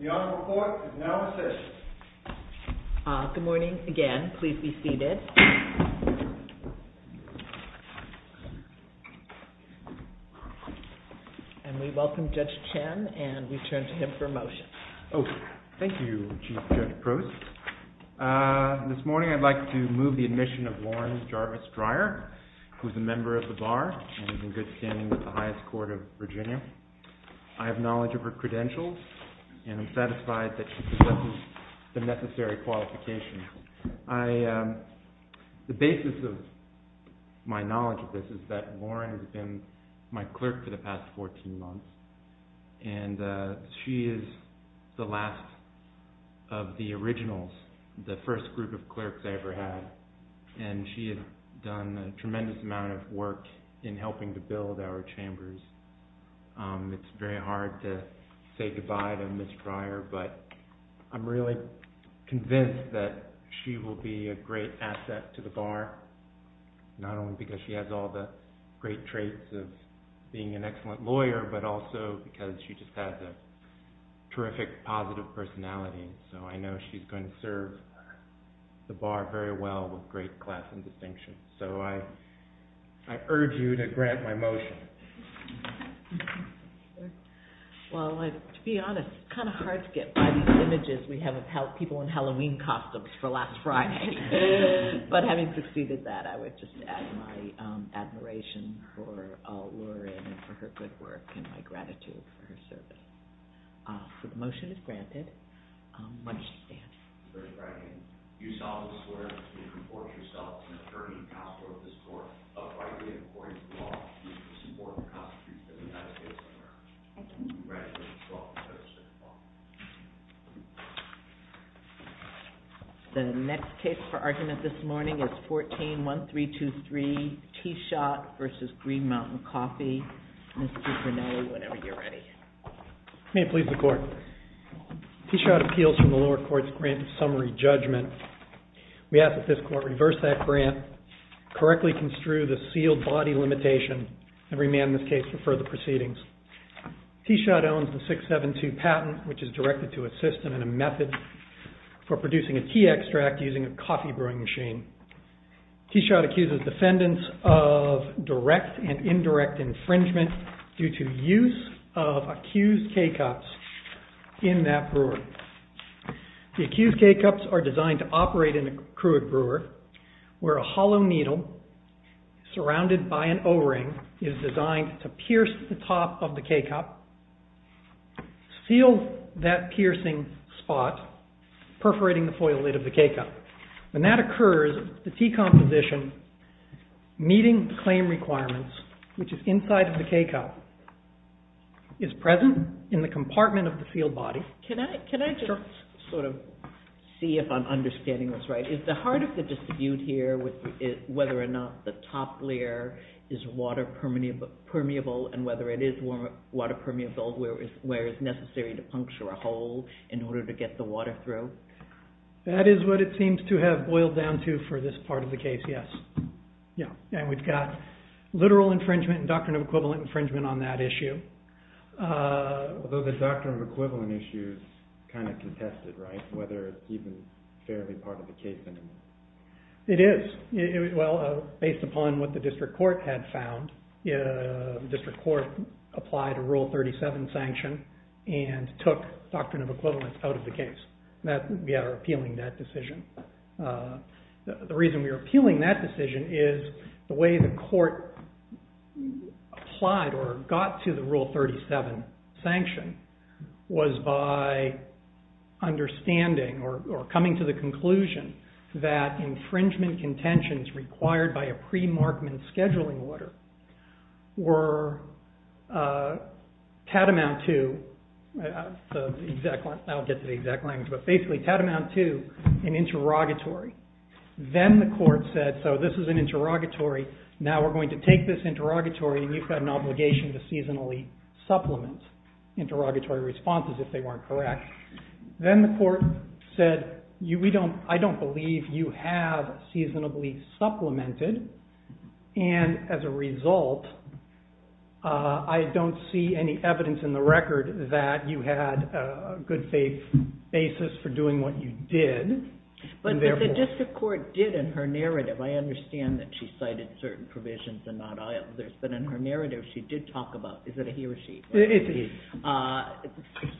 The Honorable Court is now in session. Good morning again. Please be seated. And we welcome Judge Chen and we turn to him for a motion. Thank you, Chief Judge Prost. This morning I'd like to move the admission of Lauren Jarvis-Dryer who is a member of the Bar and is in good standing with the highest court of Virginia. I have knowledge of her credentials and I'm satisfied that she possesses the necessary qualifications. The basis of my knowledge of this is that Lauren has been my clerk for the past 14 months and she is the last of the originals, the first group of clerks I ever had. And she has done a tremendous amount of work in helping to build our chambers. It's very hard to say goodbye to Ms. Dryer, but I'm really convinced that she will be a great asset to the Bar, not only because she has all the great traits of being an excellent lawyer, but also because she just has a terrific positive personality. So I know she's going to serve the Bar very well with great class and distinction. So I urge you to grant my motion. Well, to be honest, it's kind of hard to get by these images we have of people in Halloween costumes for last Friday. But having succeeded that, I would just add my admiration for Lauren and for her good work and my gratitude for her service. So the motion is granted. When she stands. Thank you. The next case for argument this morning is 14-1323 T. Schott v. Green Mountain Coffee. Whenever you're ready. May it please the Court. T. Schott appeals from the lower court's grant of summary judgment. We ask that this Court reverse that grant, correctly construe the sealed body limitation and remand this case for further proceedings. T. Schott owns the 672 patent, which is directed to a system and a method for producing a tea extract using a coffee brewing machine. T. Schott accuses defendants of direct and indirect infringement due to use of accused K-cups in that brewery. The accused K-cups are designed to operate in a crude brewer where a hollow needle surrounded by an O-ring is designed to pierce the top of the K-cup, seal that piercing spot, perforating the foil lid of the K-cup. When that occurs, the tea composition meeting claim requirements, which is inside of the K-cup, is present in the compartment of the sealed body. Can I just sort of see if I'm understanding this right? Is the heart of the dispute here whether or not the top layer is water permeable and whether it is water permeable where it's necessary to puncture a hole in order to get the water through? That is what it seems to have boiled down to for this part of the case, yes. We've got literal infringement and doctrine of equivalent infringement on that issue. Although the doctrine of equivalent issue is kind of contested, right? Whether it's even fairly part of the case anymore. It is. Well, based upon what the district court had found, the district court applied a Rule 37 sanction and took doctrine of equivalent out of the case. We are appealing that decision. The reason we are appealing that decision is the way the court applied or got to the Rule 37 sanction was by understanding or coming to the conclusion that infringement contentions required by a pre-markman scheduling order were tantamount to, I'll get to the exact language, but basically tantamount to an interrogatory. Then the court said, so this is an interrogatory, now we're going to take this interrogatory and you've got an obligation to seasonally supplement interrogatory responses if they weren't correct. Then the court said I don't believe you have seasonably supplemented and as a result I don't see any evidence in the record that you had a good faith basis for doing what you did. But the district court did in her narrative, I understand that she cited certain provisions and not others, but in her narrative she did talk about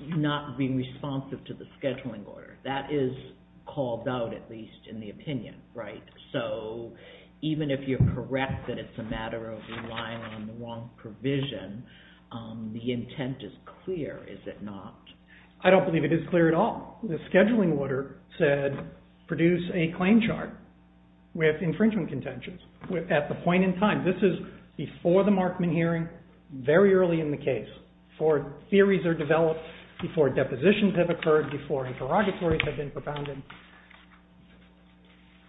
not being responsive to the scheduling order. That is called out at least in the opinion. Even if you're correct that it's a matter of relying on the wrong provision, the intent is clear, is it not? I don't believe it is clear at all. The scheduling order said produce a claim chart with infringement contentions at the point in time. This is before the markman hearing, very early in the case, before theories are developed, before depositions have occurred, before interrogatories have been propounded.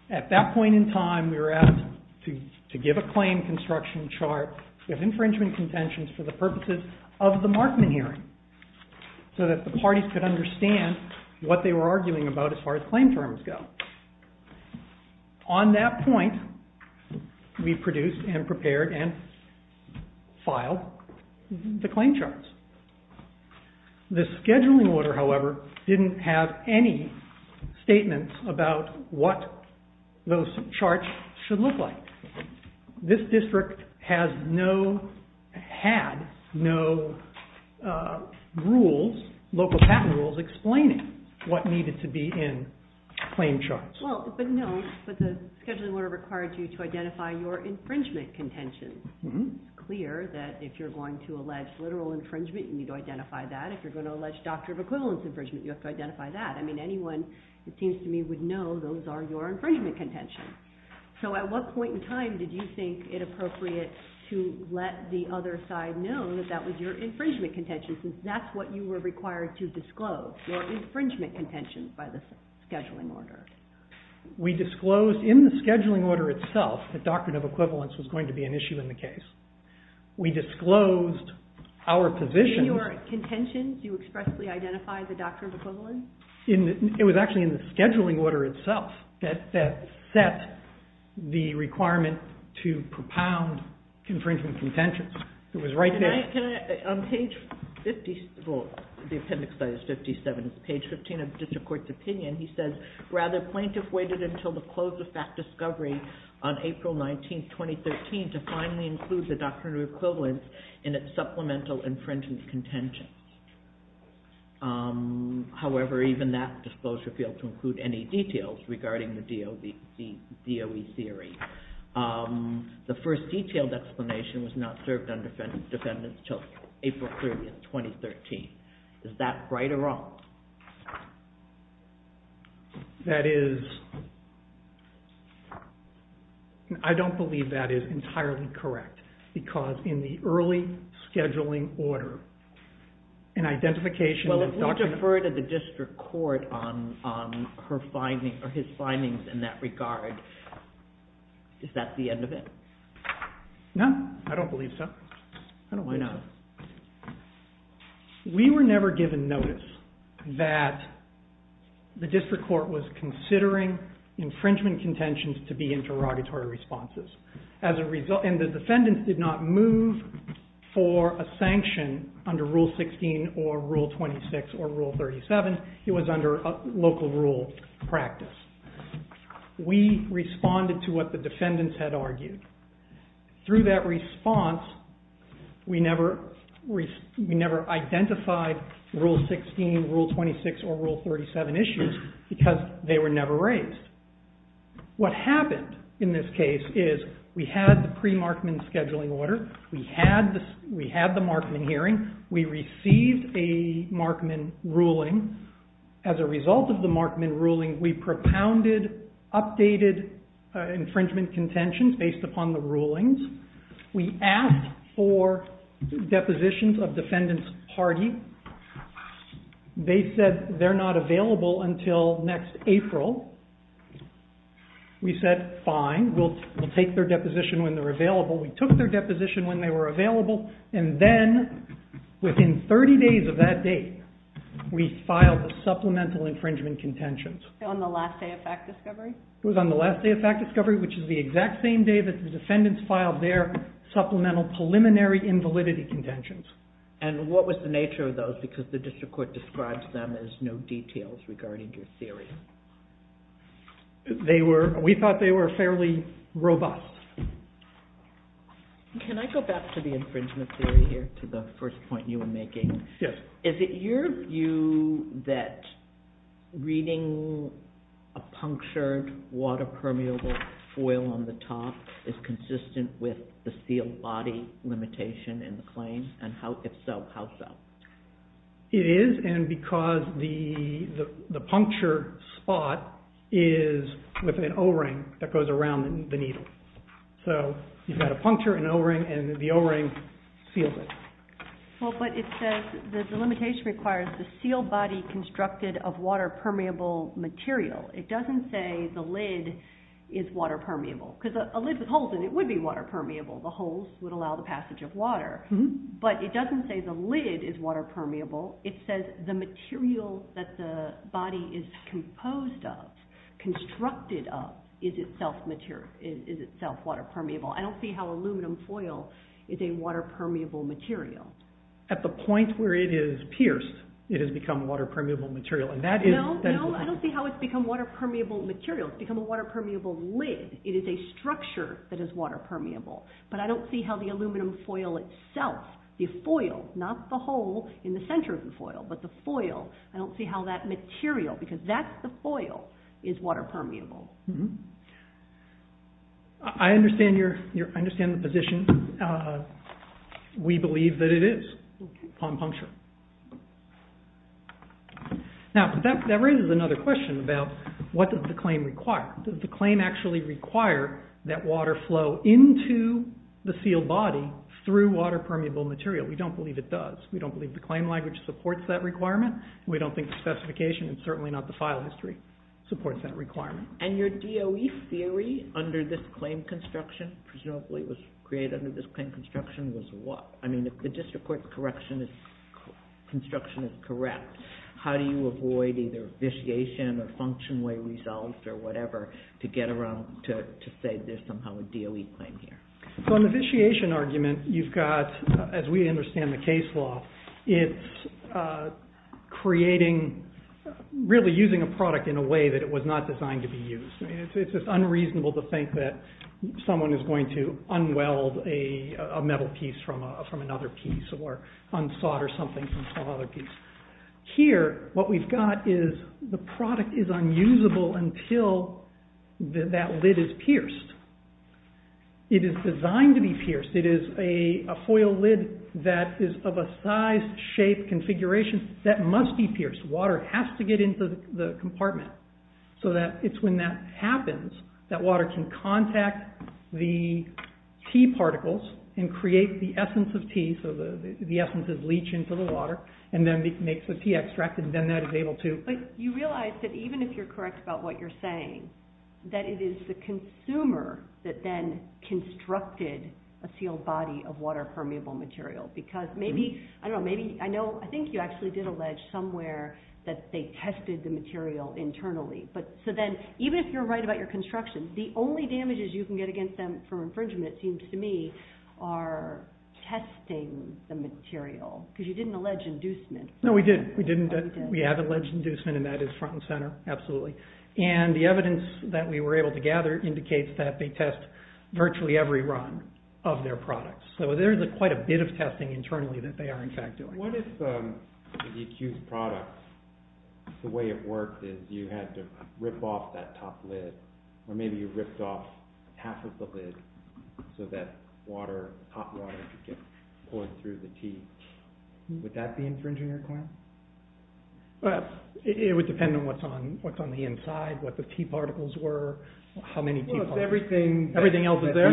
At that point in time we were asked to give a claim construction chart with infringement at the markman hearing so that the parties could understand what they were arguing about as far as claim terms go. On that point we produced and prepared and filed the claim charts. The scheduling order, however, didn't have any statements about what those charts should look like. This district has no had no rules, local patent rules explaining what needed to be in claim charts. No, but the scheduling order required you to identify your infringement contentions. It's clear that if you're going to allege literal infringement, you need to identify that. If you're going to allege doctor of equivalence infringement, you have to identify that. Anyone, it seems to me, would know those are your infringement contentions. At what point in time did you think it other side known that that was your infringement contentions since that's what you were required to disclose, your infringement contentions by the scheduling order? We disclosed in the scheduling order itself that doctor of equivalence was going to be an issue in the case. We disclosed our position. In your contentions you expressly identified the doctor of equivalent? It was actually in the scheduling order itself that set the requirement to propound infringement contentions. It was right there. On page 57, page 15 of the district court's opinion, he says rather plaintiff waited until the close of fact discovery on April 19, 2013 to finally include the doctor of equivalence in its supplemental infringement contentions. However, even that disclosure failed to include any details regarding the DOE theory. The first detailed explanation was not served on defendants till April 30, 2013. Is that right or wrong? That is I don't believe that is entirely correct because in the early scheduling order, an identification... Well, if we defer to the district court on his findings in that is that the end of it? No, I don't believe so. Why not? We were never given notice that the district court was considering infringement contentions to be interrogatory responses. The defendants did not move for a sanction under Rule 16 or Rule 26 or Rule 37. It was under local rule practice. We responded to what the defendants had argued. Through that response, we never identified Rule 16, Rule 26 or Rule 37 issues because they were never raised. What happened in this case is we had the pre-Markman scheduling order. We had the Markman hearing. We received a Markman ruling. As a result of the Markman ruling, we propounded updated infringement contentions based upon the rulings. We asked for depositions of defendants' party. They said they're not available until next April. We said fine, we'll take their deposition when they're available. We took their deposition when they were available and then within 30 days of that date, we filed the supplemental infringement contentions. On the last day of fact discovery? It was on the last day of fact discovery, which is the exact same day that the defendants filed their supplemental preliminary invalidity contentions. What was the nature of those because the district court describes them as no details regarding your theory? We thought they were fairly robust. Can I go back to the infringement theory here to the first point you were making? Is it your view that reading a punctured water permeable foil on the top is consistent with the sealed body limitation in the claim? If so, how so? It is and because the punctured spot is with an O-ring that goes around the needle. You've got a puncture, an O-ring, and the O-ring seals it. But it says the limitation requires the sealed body constructed of water permeable material. It doesn't say the lid is water permeable because a lid with holes in it would be water permeable. The holes would allow the passage of water. But it doesn't say the lid is water permeable. It says the material that the body is composed of, constructed of, is itself water permeable. I don't see how it's become water permeable material. No, I don't see how it's become water permeable material. It's become a water permeable lid. It is a structure that is water permeable. But I don't see how the aluminum foil itself the foil, not the hole in the center of the foil, but the foil I don't see how that material, because that's the foil, is water permeable. I understand the position. We believe that it is upon puncture. Now, that raises another question about what does the claim require? Does the claim actually require that water flow into the sealed body through water permeable material? We don't believe it does. We don't believe the claim language supports that requirement. We don't think the specification, and certainly not the file history, supports that requirement. And your DOE theory under this claim construction, presumably it was created under this claim construction was what? I mean, if the district court's construction is correct, how do you avoid either vitiation or function way results or whatever to get around to say there's somehow a DOE claim here? So in the vitiation argument, you've got as we understand the case law, it's creating, really using a product in a way that it was not designed to be used. It's just unreasonable to think that someone is going to un-weld a metal piece from another piece or un-solder something from some other piece. Here, what we've got is the product is unusable until that lid is pierced. It is designed to be pierced. It is a foil lid that is of a size, shape, configuration that must be pierced. Water has to get into the piece. When that happens, that water can contact the T particles and create the essence of T, so the essence of leach into the water and then makes the T extract and then that is able to... You realize that even if you're correct about what you're saying, that it is the consumer that then constructed a sealed body of water permeable material because maybe, I don't know, maybe, I know, I think you actually did allege somewhere that they tested the material internally. Even if you're right about your construction, the only damages you can get against them for infringement, it seems to me, are testing the material because you didn't allege inducement. No, we didn't. We have alleged inducement and that is front and center, absolutely. The evidence that we were able to gather indicates that they test virtually every run of their products. There is quite a bit of testing internally that they are, in fact, doing. What if the accused product, the way it worked is you had to rip off that top lid or maybe you ripped off half of the lid so that water, hot water, could get pulled through the T. Would that be infringing your claim? It would depend on what's on the inside, what the T particles were, how many T particles... Everything else is there?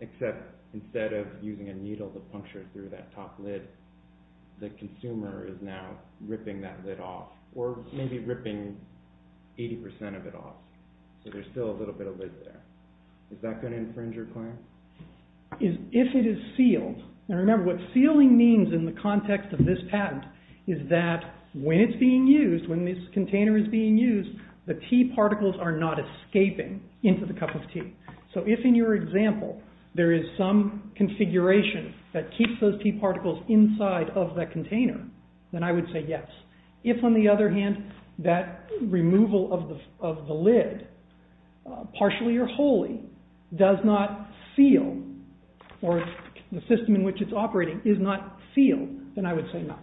Except instead of using a needle to puncture through that top lid, the consumer is now ripping that lid off or maybe ripping 80% of it off. So there's still a little bit of lid there. Is that going to infringe your claim? If it is sealed, and remember what sealing means in the context of this patent is that when it's being used, when this container is being used, the T particles are not escaping into the cup of tea. So if in your example there is some T particles inside of the container, then I would say yes. If, on the other hand, that removal of the lid partially or wholly does not seal or the system in which it's operating is not sealed, then I would say no.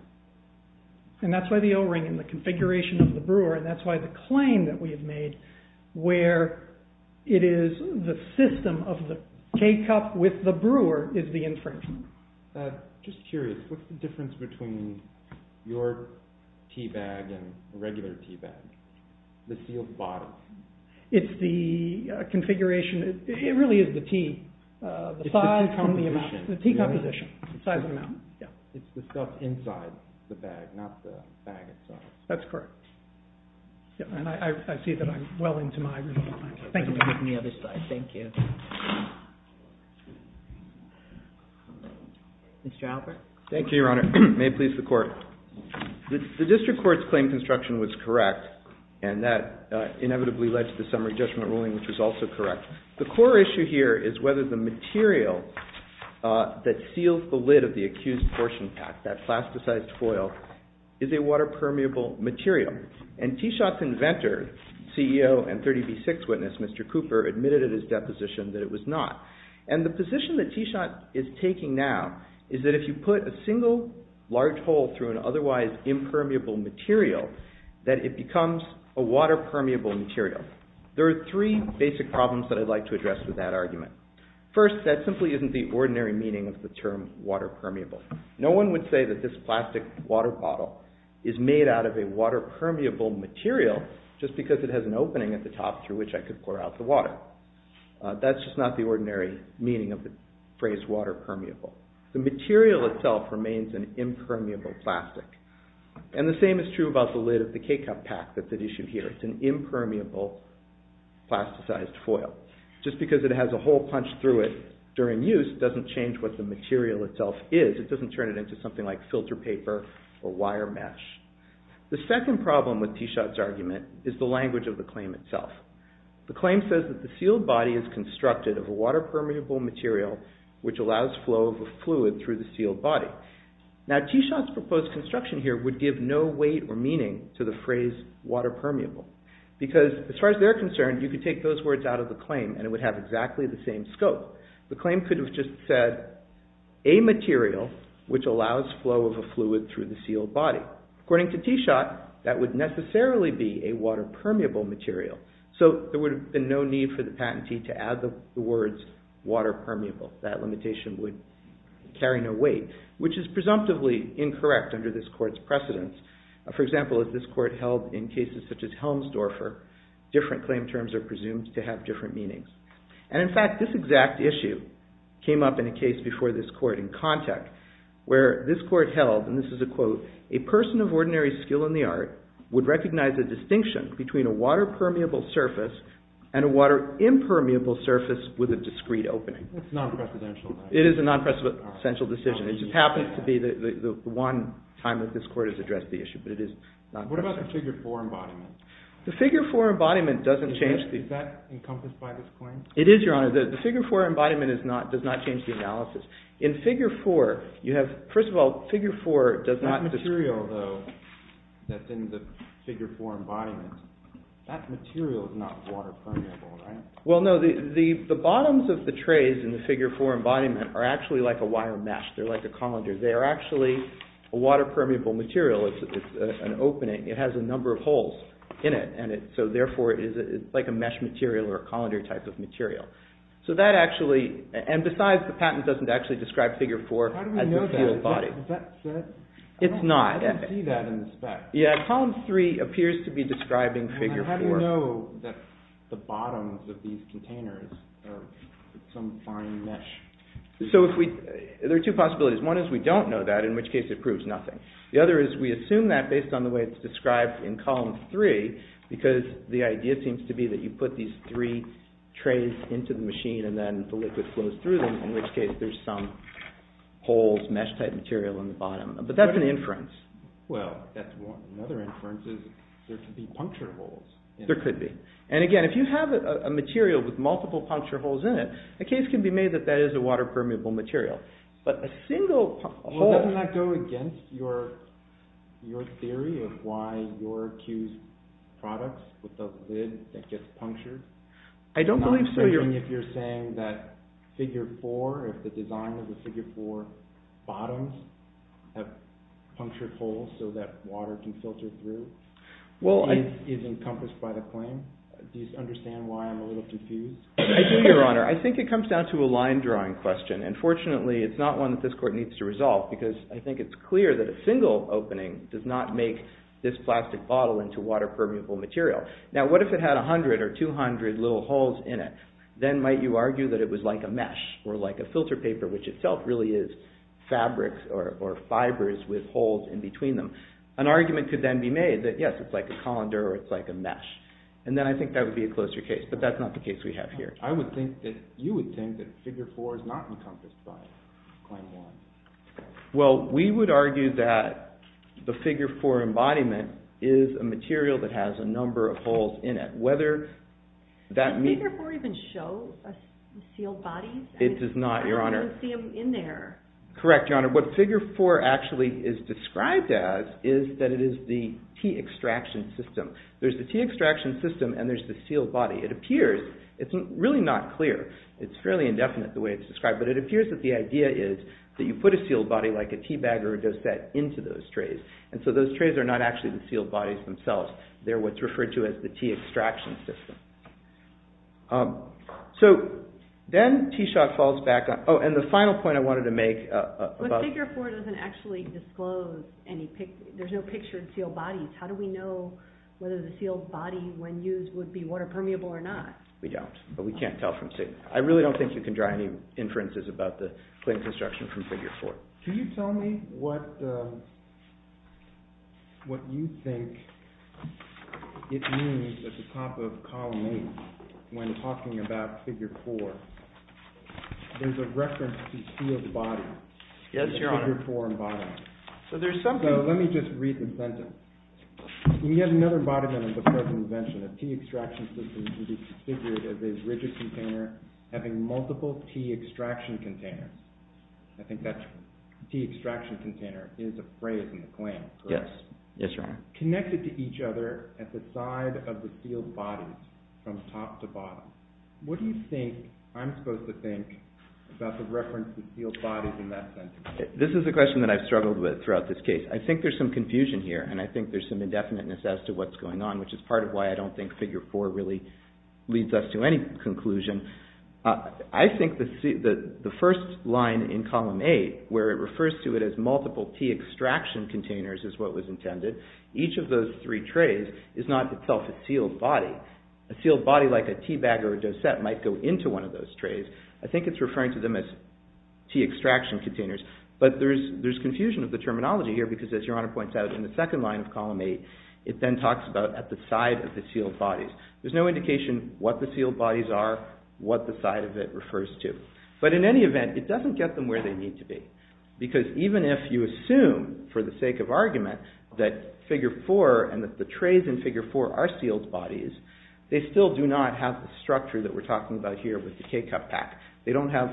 And that's why the O-ring and the configuration of the brewer, and that's why the claim that we have made where it is the system of the teacup with the brewer is the infringement. Just curious, what's the difference between your teabag and a regular teabag? The sealed body. It's the configuration it really is the T, the size and the amount. It's the stuff inside the bag, not the bag itself. That's correct. And I see that I'm well into my removal. Thank you. Mr. Alpert. Thank you, Your Honor. May it please the Court. The district court's claim construction was correct, and that inevitably led to the summary judgment ruling, which was also correct. The core issue here is whether the material that seals the lid of the accused portion pack, that plasticized foil, is a water-permeable material. And T-Shot's inventor, CEO and 30b-6 witness, Mr. Cooper, admitted at his deposition that it was not. And the position that T-Shot is taking now is that if you put a single large hole through an otherwise impermeable material, that it becomes a water-permeable material. There are three basic problems that I'd like to address with that argument. First, that simply isn't the ordinary meaning of the term water-permeable. No one would say that this plastic water bottle is made out of a water-permeable material just because it has an opening at the top through which I could pour out the water. That's just not the ordinary meaning of the phrase water-permeable. The material itself remains an impermeable plastic. And the same is true about the lid of the K-cup pack that's at issue here. It's an impermeable plasticized foil. Just because it has a hole punched through it during use doesn't change what the material itself is. It doesn't turn it into something like filter paper or wire mesh. The second problem with T-Shot's argument is the language of the claim itself. The claim says that the sealed body is constructed of a water-permeable material which allows flow of a fluid through the sealed body. Now, T-Shot's proposed construction here would give no weight or meaning to the phrase water-permeable because, as far as they're concerned, you could take those words out of the claim and it would have exactly the same scope. The claim could have just said, a material which allows flow of a fluid through the sealed body. According to T-Shot, that would necessarily be a water-permeable material. So there would have been no need for the patentee to add the words water-permeable. That limitation would carry no weight, which is presumptively incorrect under this court's precedence. For example, as this court held in cases such as Helmsdorfer, different claim terms are presumed to have different meanings. And, in fact, this exact issue came up in a case before this court in Kanteck where this court held, and this is a quote, a person of ordinary skill in the art would recognize a distinction between a water-permeable surface and a water-impermeable surface with a discreet opening. It's non-presidential. It is a non-presidential decision. It just happens to be the one time that this court has addressed the issue, but it is non-presidential. What about the figure 4 embodiment? The figure 4 embodiment doesn't change the... Is that encompassed by this claim? It is, Your Honor. The figure 4 embodiment does not change the analysis. In figure 4, you have, first of all, figure 4 does not... That material, though, that's in the figure 4 embodiment, that material is not water-permeable, right? Well, no. The bottoms of the trays in the figure 4 embodiment are actually like a wire mesh. They're like a colander. They are actually a water-permeable material. It's an opening. It has a number of holes in it, and so therefore it's like a mesh material or a colander type of material. So that actually, and besides the patent doesn't actually describe figure 4 as such? It's not. I didn't see that in the spec. Yeah, column 3 appears to be describing figure 4. How do you know that the bottoms of these containers are some fine mesh? There are two possibilities. One is we don't know that, in which case it proves nothing. The other is we assume that based on the way it's described in column 3 because the idea seems to be that you put these three trays into the machine and then the liquid flows through them, in which case there's some holes, mesh type material in the bottom. But that's an inference. Well, that's one. Another inference is there could be puncture holes. There could be. And again, if you have a material with multiple puncture holes in it, a case can be made that that is a water-permeable material. But a single hole... Well, doesn't that go against your theory of why you're accused products with a lid that gets punctured? I don't believe so. You're saying that figure 4, if the design of the figure 4 bottoms have punctured holes so that water can filter through is encompassed by the claim? Do you understand why I'm a little confused? I do, Your Honor. I think it comes down to a line drawing question. And fortunately, it's not one that this Court needs to resolve because I think it's clear that a single opening does not make this plastic bottle into water-permeable material. Now, what if it had 100 or 200 little holes in it? Then might you argue that it was like a mesh or like a filter paper, which itself really is fabrics or fibers with holes in between them? An argument could then be made that, yes, it's like a colander or it's like a mesh. And then I think that would be a closer case. But that's not the case we have here. You would think that figure 4 is not encompassed by claim 1. Well, we would argue that the figure 4 embodiment is a material that has a number of holes in it. Does figure 4 even show sealed bodies? It does not, Your Honor. What figure 4 actually is described as is that it is the T-extraction system. There's the T-extraction system and there's the sealed body. It appears, it's really not clear, it's fairly indefinite the way it's described, but it appears that the idea is that you put a sealed body like a teabagger does that into those trays. And so those trays are not actually the sealed bodies themselves. They're what's referred to as the T-extraction system. So, then T. Schott falls back on, oh, and the final point I wanted to make. But figure 4 doesn't actually disclose any, there's no pictured sealed bodies. How do we know whether the sealed body, when used, would be water permeable or not? We don't, but we can't tell from see. I really don't think you can draw any inferences about the claim construction from figure 4. Can you tell me what what you think it means at the top of column 8 when talking about figure 4? There's a reference to sealed bodies in the figure 4 embodiment. So there's something Let me just read the sentence. We have another embodiment of the present invention. A T-extraction system can be configured as a rigid container having multiple T-extraction containers. I think that T-extraction container is a phrase in the claim, correct? Yes. Connected to each other at the side of the sealed bodies from top to bottom. What do you think I'm supposed to think about the reference to sealed bodies in that sentence? This is a question that I've struggled with throughout this case. I think there's some confusion here, and I think there's some indefiniteness as to what's going on, which is part of why I don't think figure 4 really leads us to any conclusion. I think the first line in column 8, where it refers to it as multiple T-extraction containers is what was intended. Each of those three trays is not itself a sealed body. A sealed body like a teabag or a dosette might go into one of those trays. I think it's referring to them as T-extraction containers. But there's confusion of the terminology here, because as Your Honor points out, in the second line of column 8, it then talks about at the side of the sealed bodies. There's no indication what the sealed bodies are, what the side of it refers to. But in any event, it doesn't get them where they need to be. Because even if you assume, for the sake of argument, that figure 4 and that the trays in figure 4 are sealed bodies, they still do not have the structure that we're talking about here with the K-cup pack. They don't have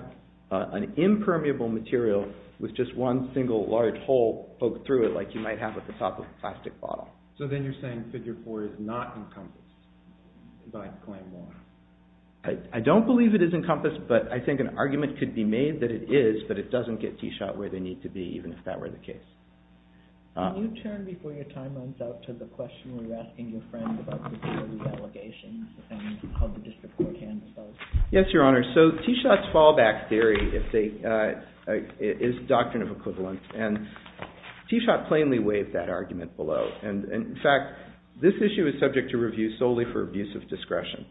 an impermeable material with just one single large hole poked through it like you might have at the top of a plastic bottle. So then you're saying figure 4 is not encompassed by claim 1. I don't believe it is encompassed, but I think an argument could be made that it is, but it doesn't get T-Shot where they need to be, even if that were the case. Can you turn, before your time runs out, to the question where you're asking your friend about security allegations and how the district court handles those? Yes, Your Honor. So T-Shot's fallback theory is doctrine of equivalence. And T-Shot plainly waived that argument below. And in fact, this issue is subject to review solely for abuse of discretion.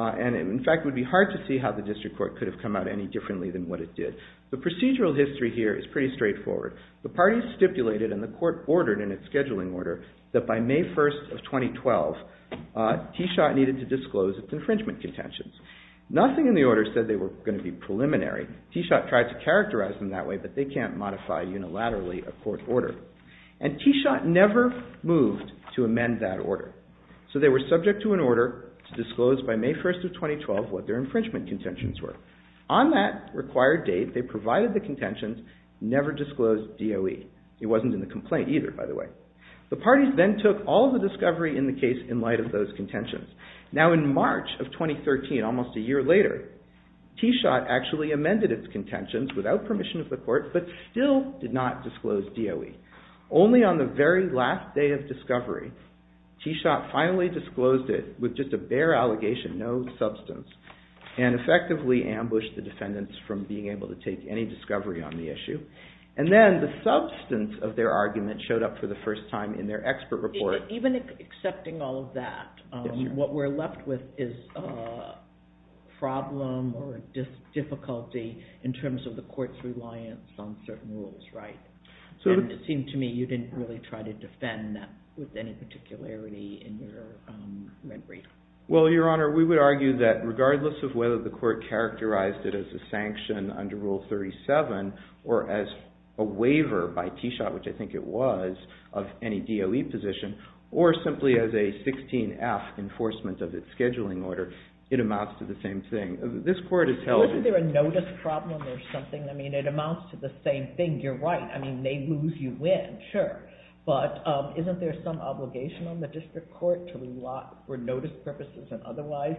And in fact, it would be hard to see how the district court could have come out any differently than what it did. The procedural history here is pretty straightforward. The parties stipulated and the court ordered in its scheduling order that by May 1st of 2012, T-Shot needed to disclose its infringement contentions. Nothing in the order said they were going to be preliminary. T-Shot tried to characterize them that way, but they can't modify unilaterally and that order. So they were subject to an order to disclose by May 1st of 2012 what their infringement contentions were. On that required date, they provided the contentions, never disclosed DOE. It wasn't in the complaint either, by the way. The parties then took all the discovery in the case in light of those contentions. Now in March of 2013, almost a year later, T-Shot actually amended its contentions without permission of the court, but still did not disclose DOE. Only on the very last day of discovery, T-Shot finally disclosed it with just a bare allegation, no substance, and effectively ambushed the defendants from being able to take any discovery on the issue. Then the substance of their argument showed up for the first time in their expert report. Even accepting all of that, what we're left with is a problem or difficulty in terms of the court's reliance on certain rules, right? And it seemed to me you didn't really try to defend that with any particularity in your report. Well, Your Honor, we would argue that regardless of whether the court characterized it as a sanction under Rule 37, or as a waiver by T-Shot, which I think it was, of any DOE position, or simply as a 16-F enforcement of its scheduling order, it amounts to the same thing. Isn't there a notice problem or something? I mean, it may lose you win, sure. But isn't there some obligation on the district court for notice purposes and otherwise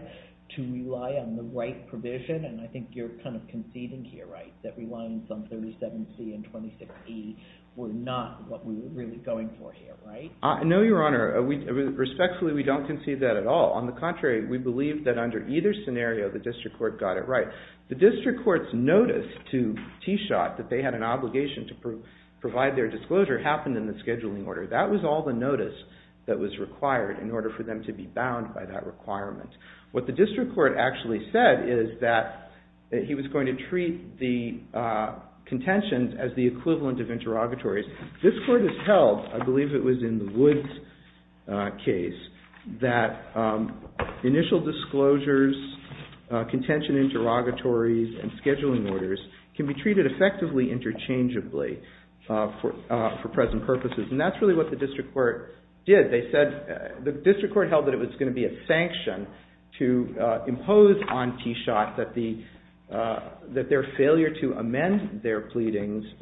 to rely on the right provision? And I think you're kind of conceding here, right? That reliance on 37C and 26E were not what we were really going for here, right? No, Your Honor. Respectfully, we don't concede that at all. On the contrary, we believe that under either scenario, the district court got it right. The district court's notice to T-Shot that they had an obligation to provide their disclosure happened in the scheduling order. That was all the notice that was required in order for them to be bound by that requirement. What the district court actually said is that he was going to treat the contentions as the equivalent of interrogatories. This court has held, I believe it was in the Woods case, that initial disclosures, contention interrogatories, and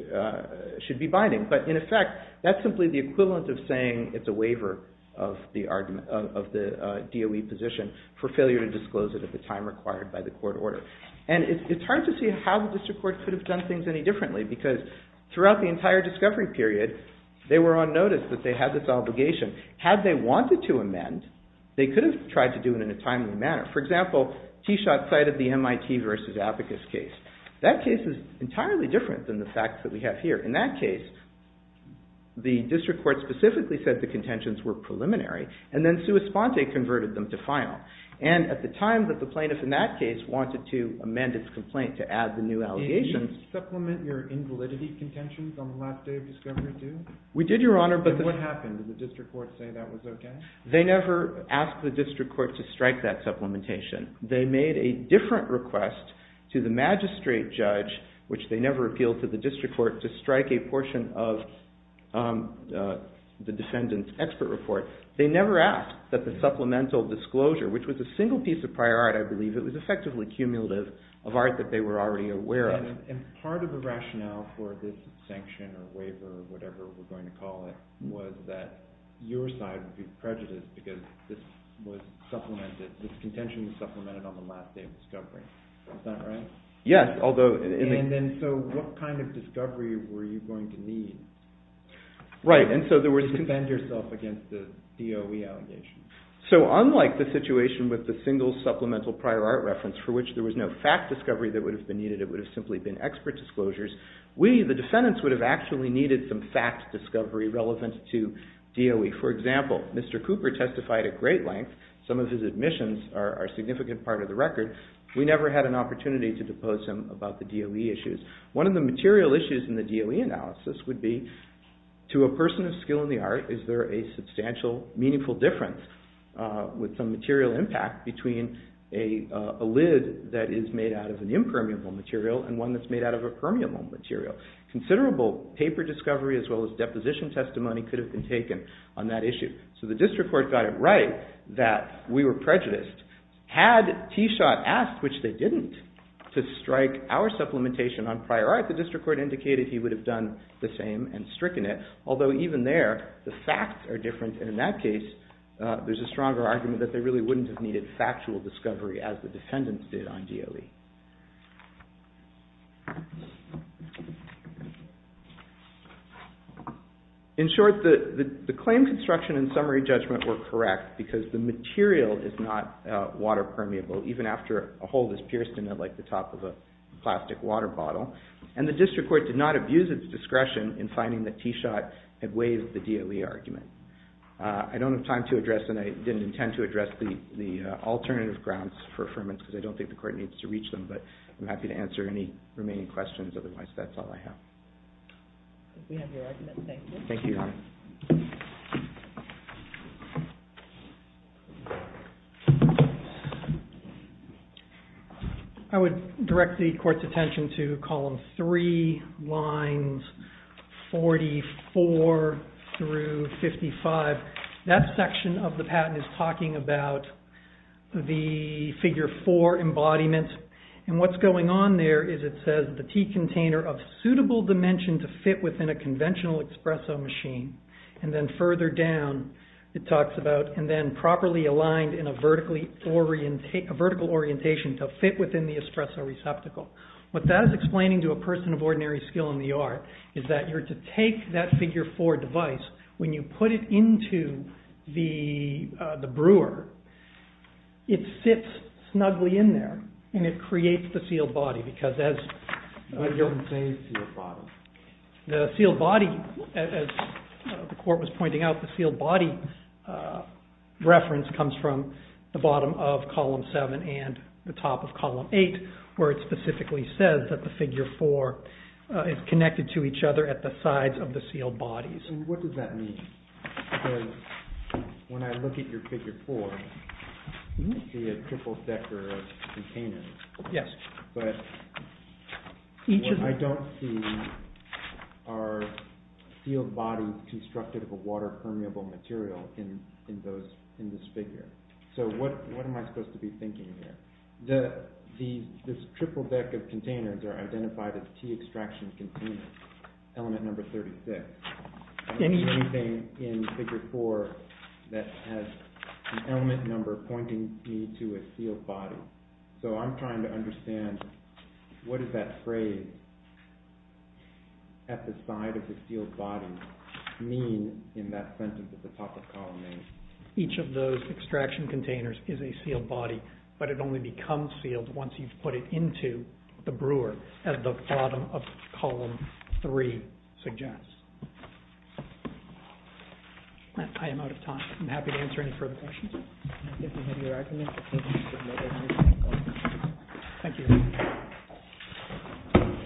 T-Shot should be binding, but in effect, that's simply the equivalent of saying it's a waiver of the DOE position for failure to disclose it at the time required by the court order. And it's hard to see how the district court could have done things any differently because throughout the entire discovery period, they were on notice that they had this obligation. Had they wanted to amend, they could have tried to do it in a timely manner. For example, T-Shot cited the MIT versus Abacus case. That case is entirely different than the facts that we have here. In that case, the district court specifically said the contentions were preliminary, and then Sua Sponte converted them to final. And at the time that the plaintiff in that case wanted to amend its complaint to add the new allegations... Did you supplement your invalidity contentions on the last day of discovery, too? We did, Your Honor, but... And what happened? Did the district court say that was okay? They never asked the district court to strike that supplementation. They made a different request to the magistrate judge, which they never appealed to the district court, to strike a portion of the defendant's expert report. They never asked that the supplemental disclosure, which was a single piece of prior art, I believe, it was effectively cumulative, of art that they were already aware of. And part of the rationale for this sanction, or waiver, or whatever we're going to call it, was that your side would be prejudiced because this was supplemented, this contention was supplemented on the last day of discovery. Is that right? Yes, although... And then, so, what kind of discovery were you going to need to defend yourself against the DOE allegations? So, unlike the situation with the DOE, in which there was no fact discovery that would have been needed, it would have simply been expert disclosures, we, the defendants, would have actually needed some fact discovery relevant to DOE. For example, Mr. Cooper testified at great length, some of his admissions are a significant part of the record, we never had an opportunity to depose him about the DOE issues. One of the material issues in the DOE analysis would be, to a person of skill in the art, is there a substantial, meaningful difference with some material impact between a lid that is made out of an impermeable material and one that's made out of a permeable material? Considerable paper discovery as well as deposition testimony could have been taken on that issue. So, the district court got it right that we were prejudiced. Had T. Schott asked, which they didn't, to strike our supplementation on prior art, the district court indicated he would have done the same and stricken it. Although, even there, the facts are different, and in that case, there's a factual discovery, as the defendants did on DOE. In short, the claim construction and summary judgment were correct, because the material is not water permeable, even after a hole is pierced in it, like the top of a plastic water bottle, and the district court did not abuse its discretion in finding that T. Schott had waived the DOE argument. I don't have time to address, and I don't think the court needs to reach them, but I'm happy to answer any remaining questions, otherwise that's all I have. Thank you. I would direct the court's attention to column 3, lines 44 through 55. That section of the patent is about the figure 4 embodiment, and what's going on there is it says, the tea container of suitable dimension to fit within a conventional espresso machine, and then further down, it talks about, and then properly aligned in a vertical orientation to fit within the espresso receptacle. What that is explaining to a person of ordinary skill in the art, is that you're to take that figure 4 device, when you put it into the brewer, it sits snugly in there, and it creates the sealed body, because as the sealed body, as the court was pointing out, the sealed body reference comes from the bottom of column 7 and the top of column 8, where it specifically says that the figure 4 is connected to each other at the sides of the sealed bodies. What does that mean? Because when I look at your figure 4, I see a triple decker of containers, but what I don't see are sealed bodies constructed of a water permeable material in this figure. What am I supposed to be thinking here? The triple deck of containers are identified as tea extraction containers, element number 36. I don't see anything in figure 4 that has an element number pointing me to a sealed body. So I'm trying to understand what does that phrase, at the side of the sealed body, mean in that sentence at the top of column 8? Each of those extraction containers is a sealed body, but it only becomes sealed once you've put it into the brewer, as the bottom of column 3 suggests. I am out of time. I'm happy to answer any further questions. Thank you.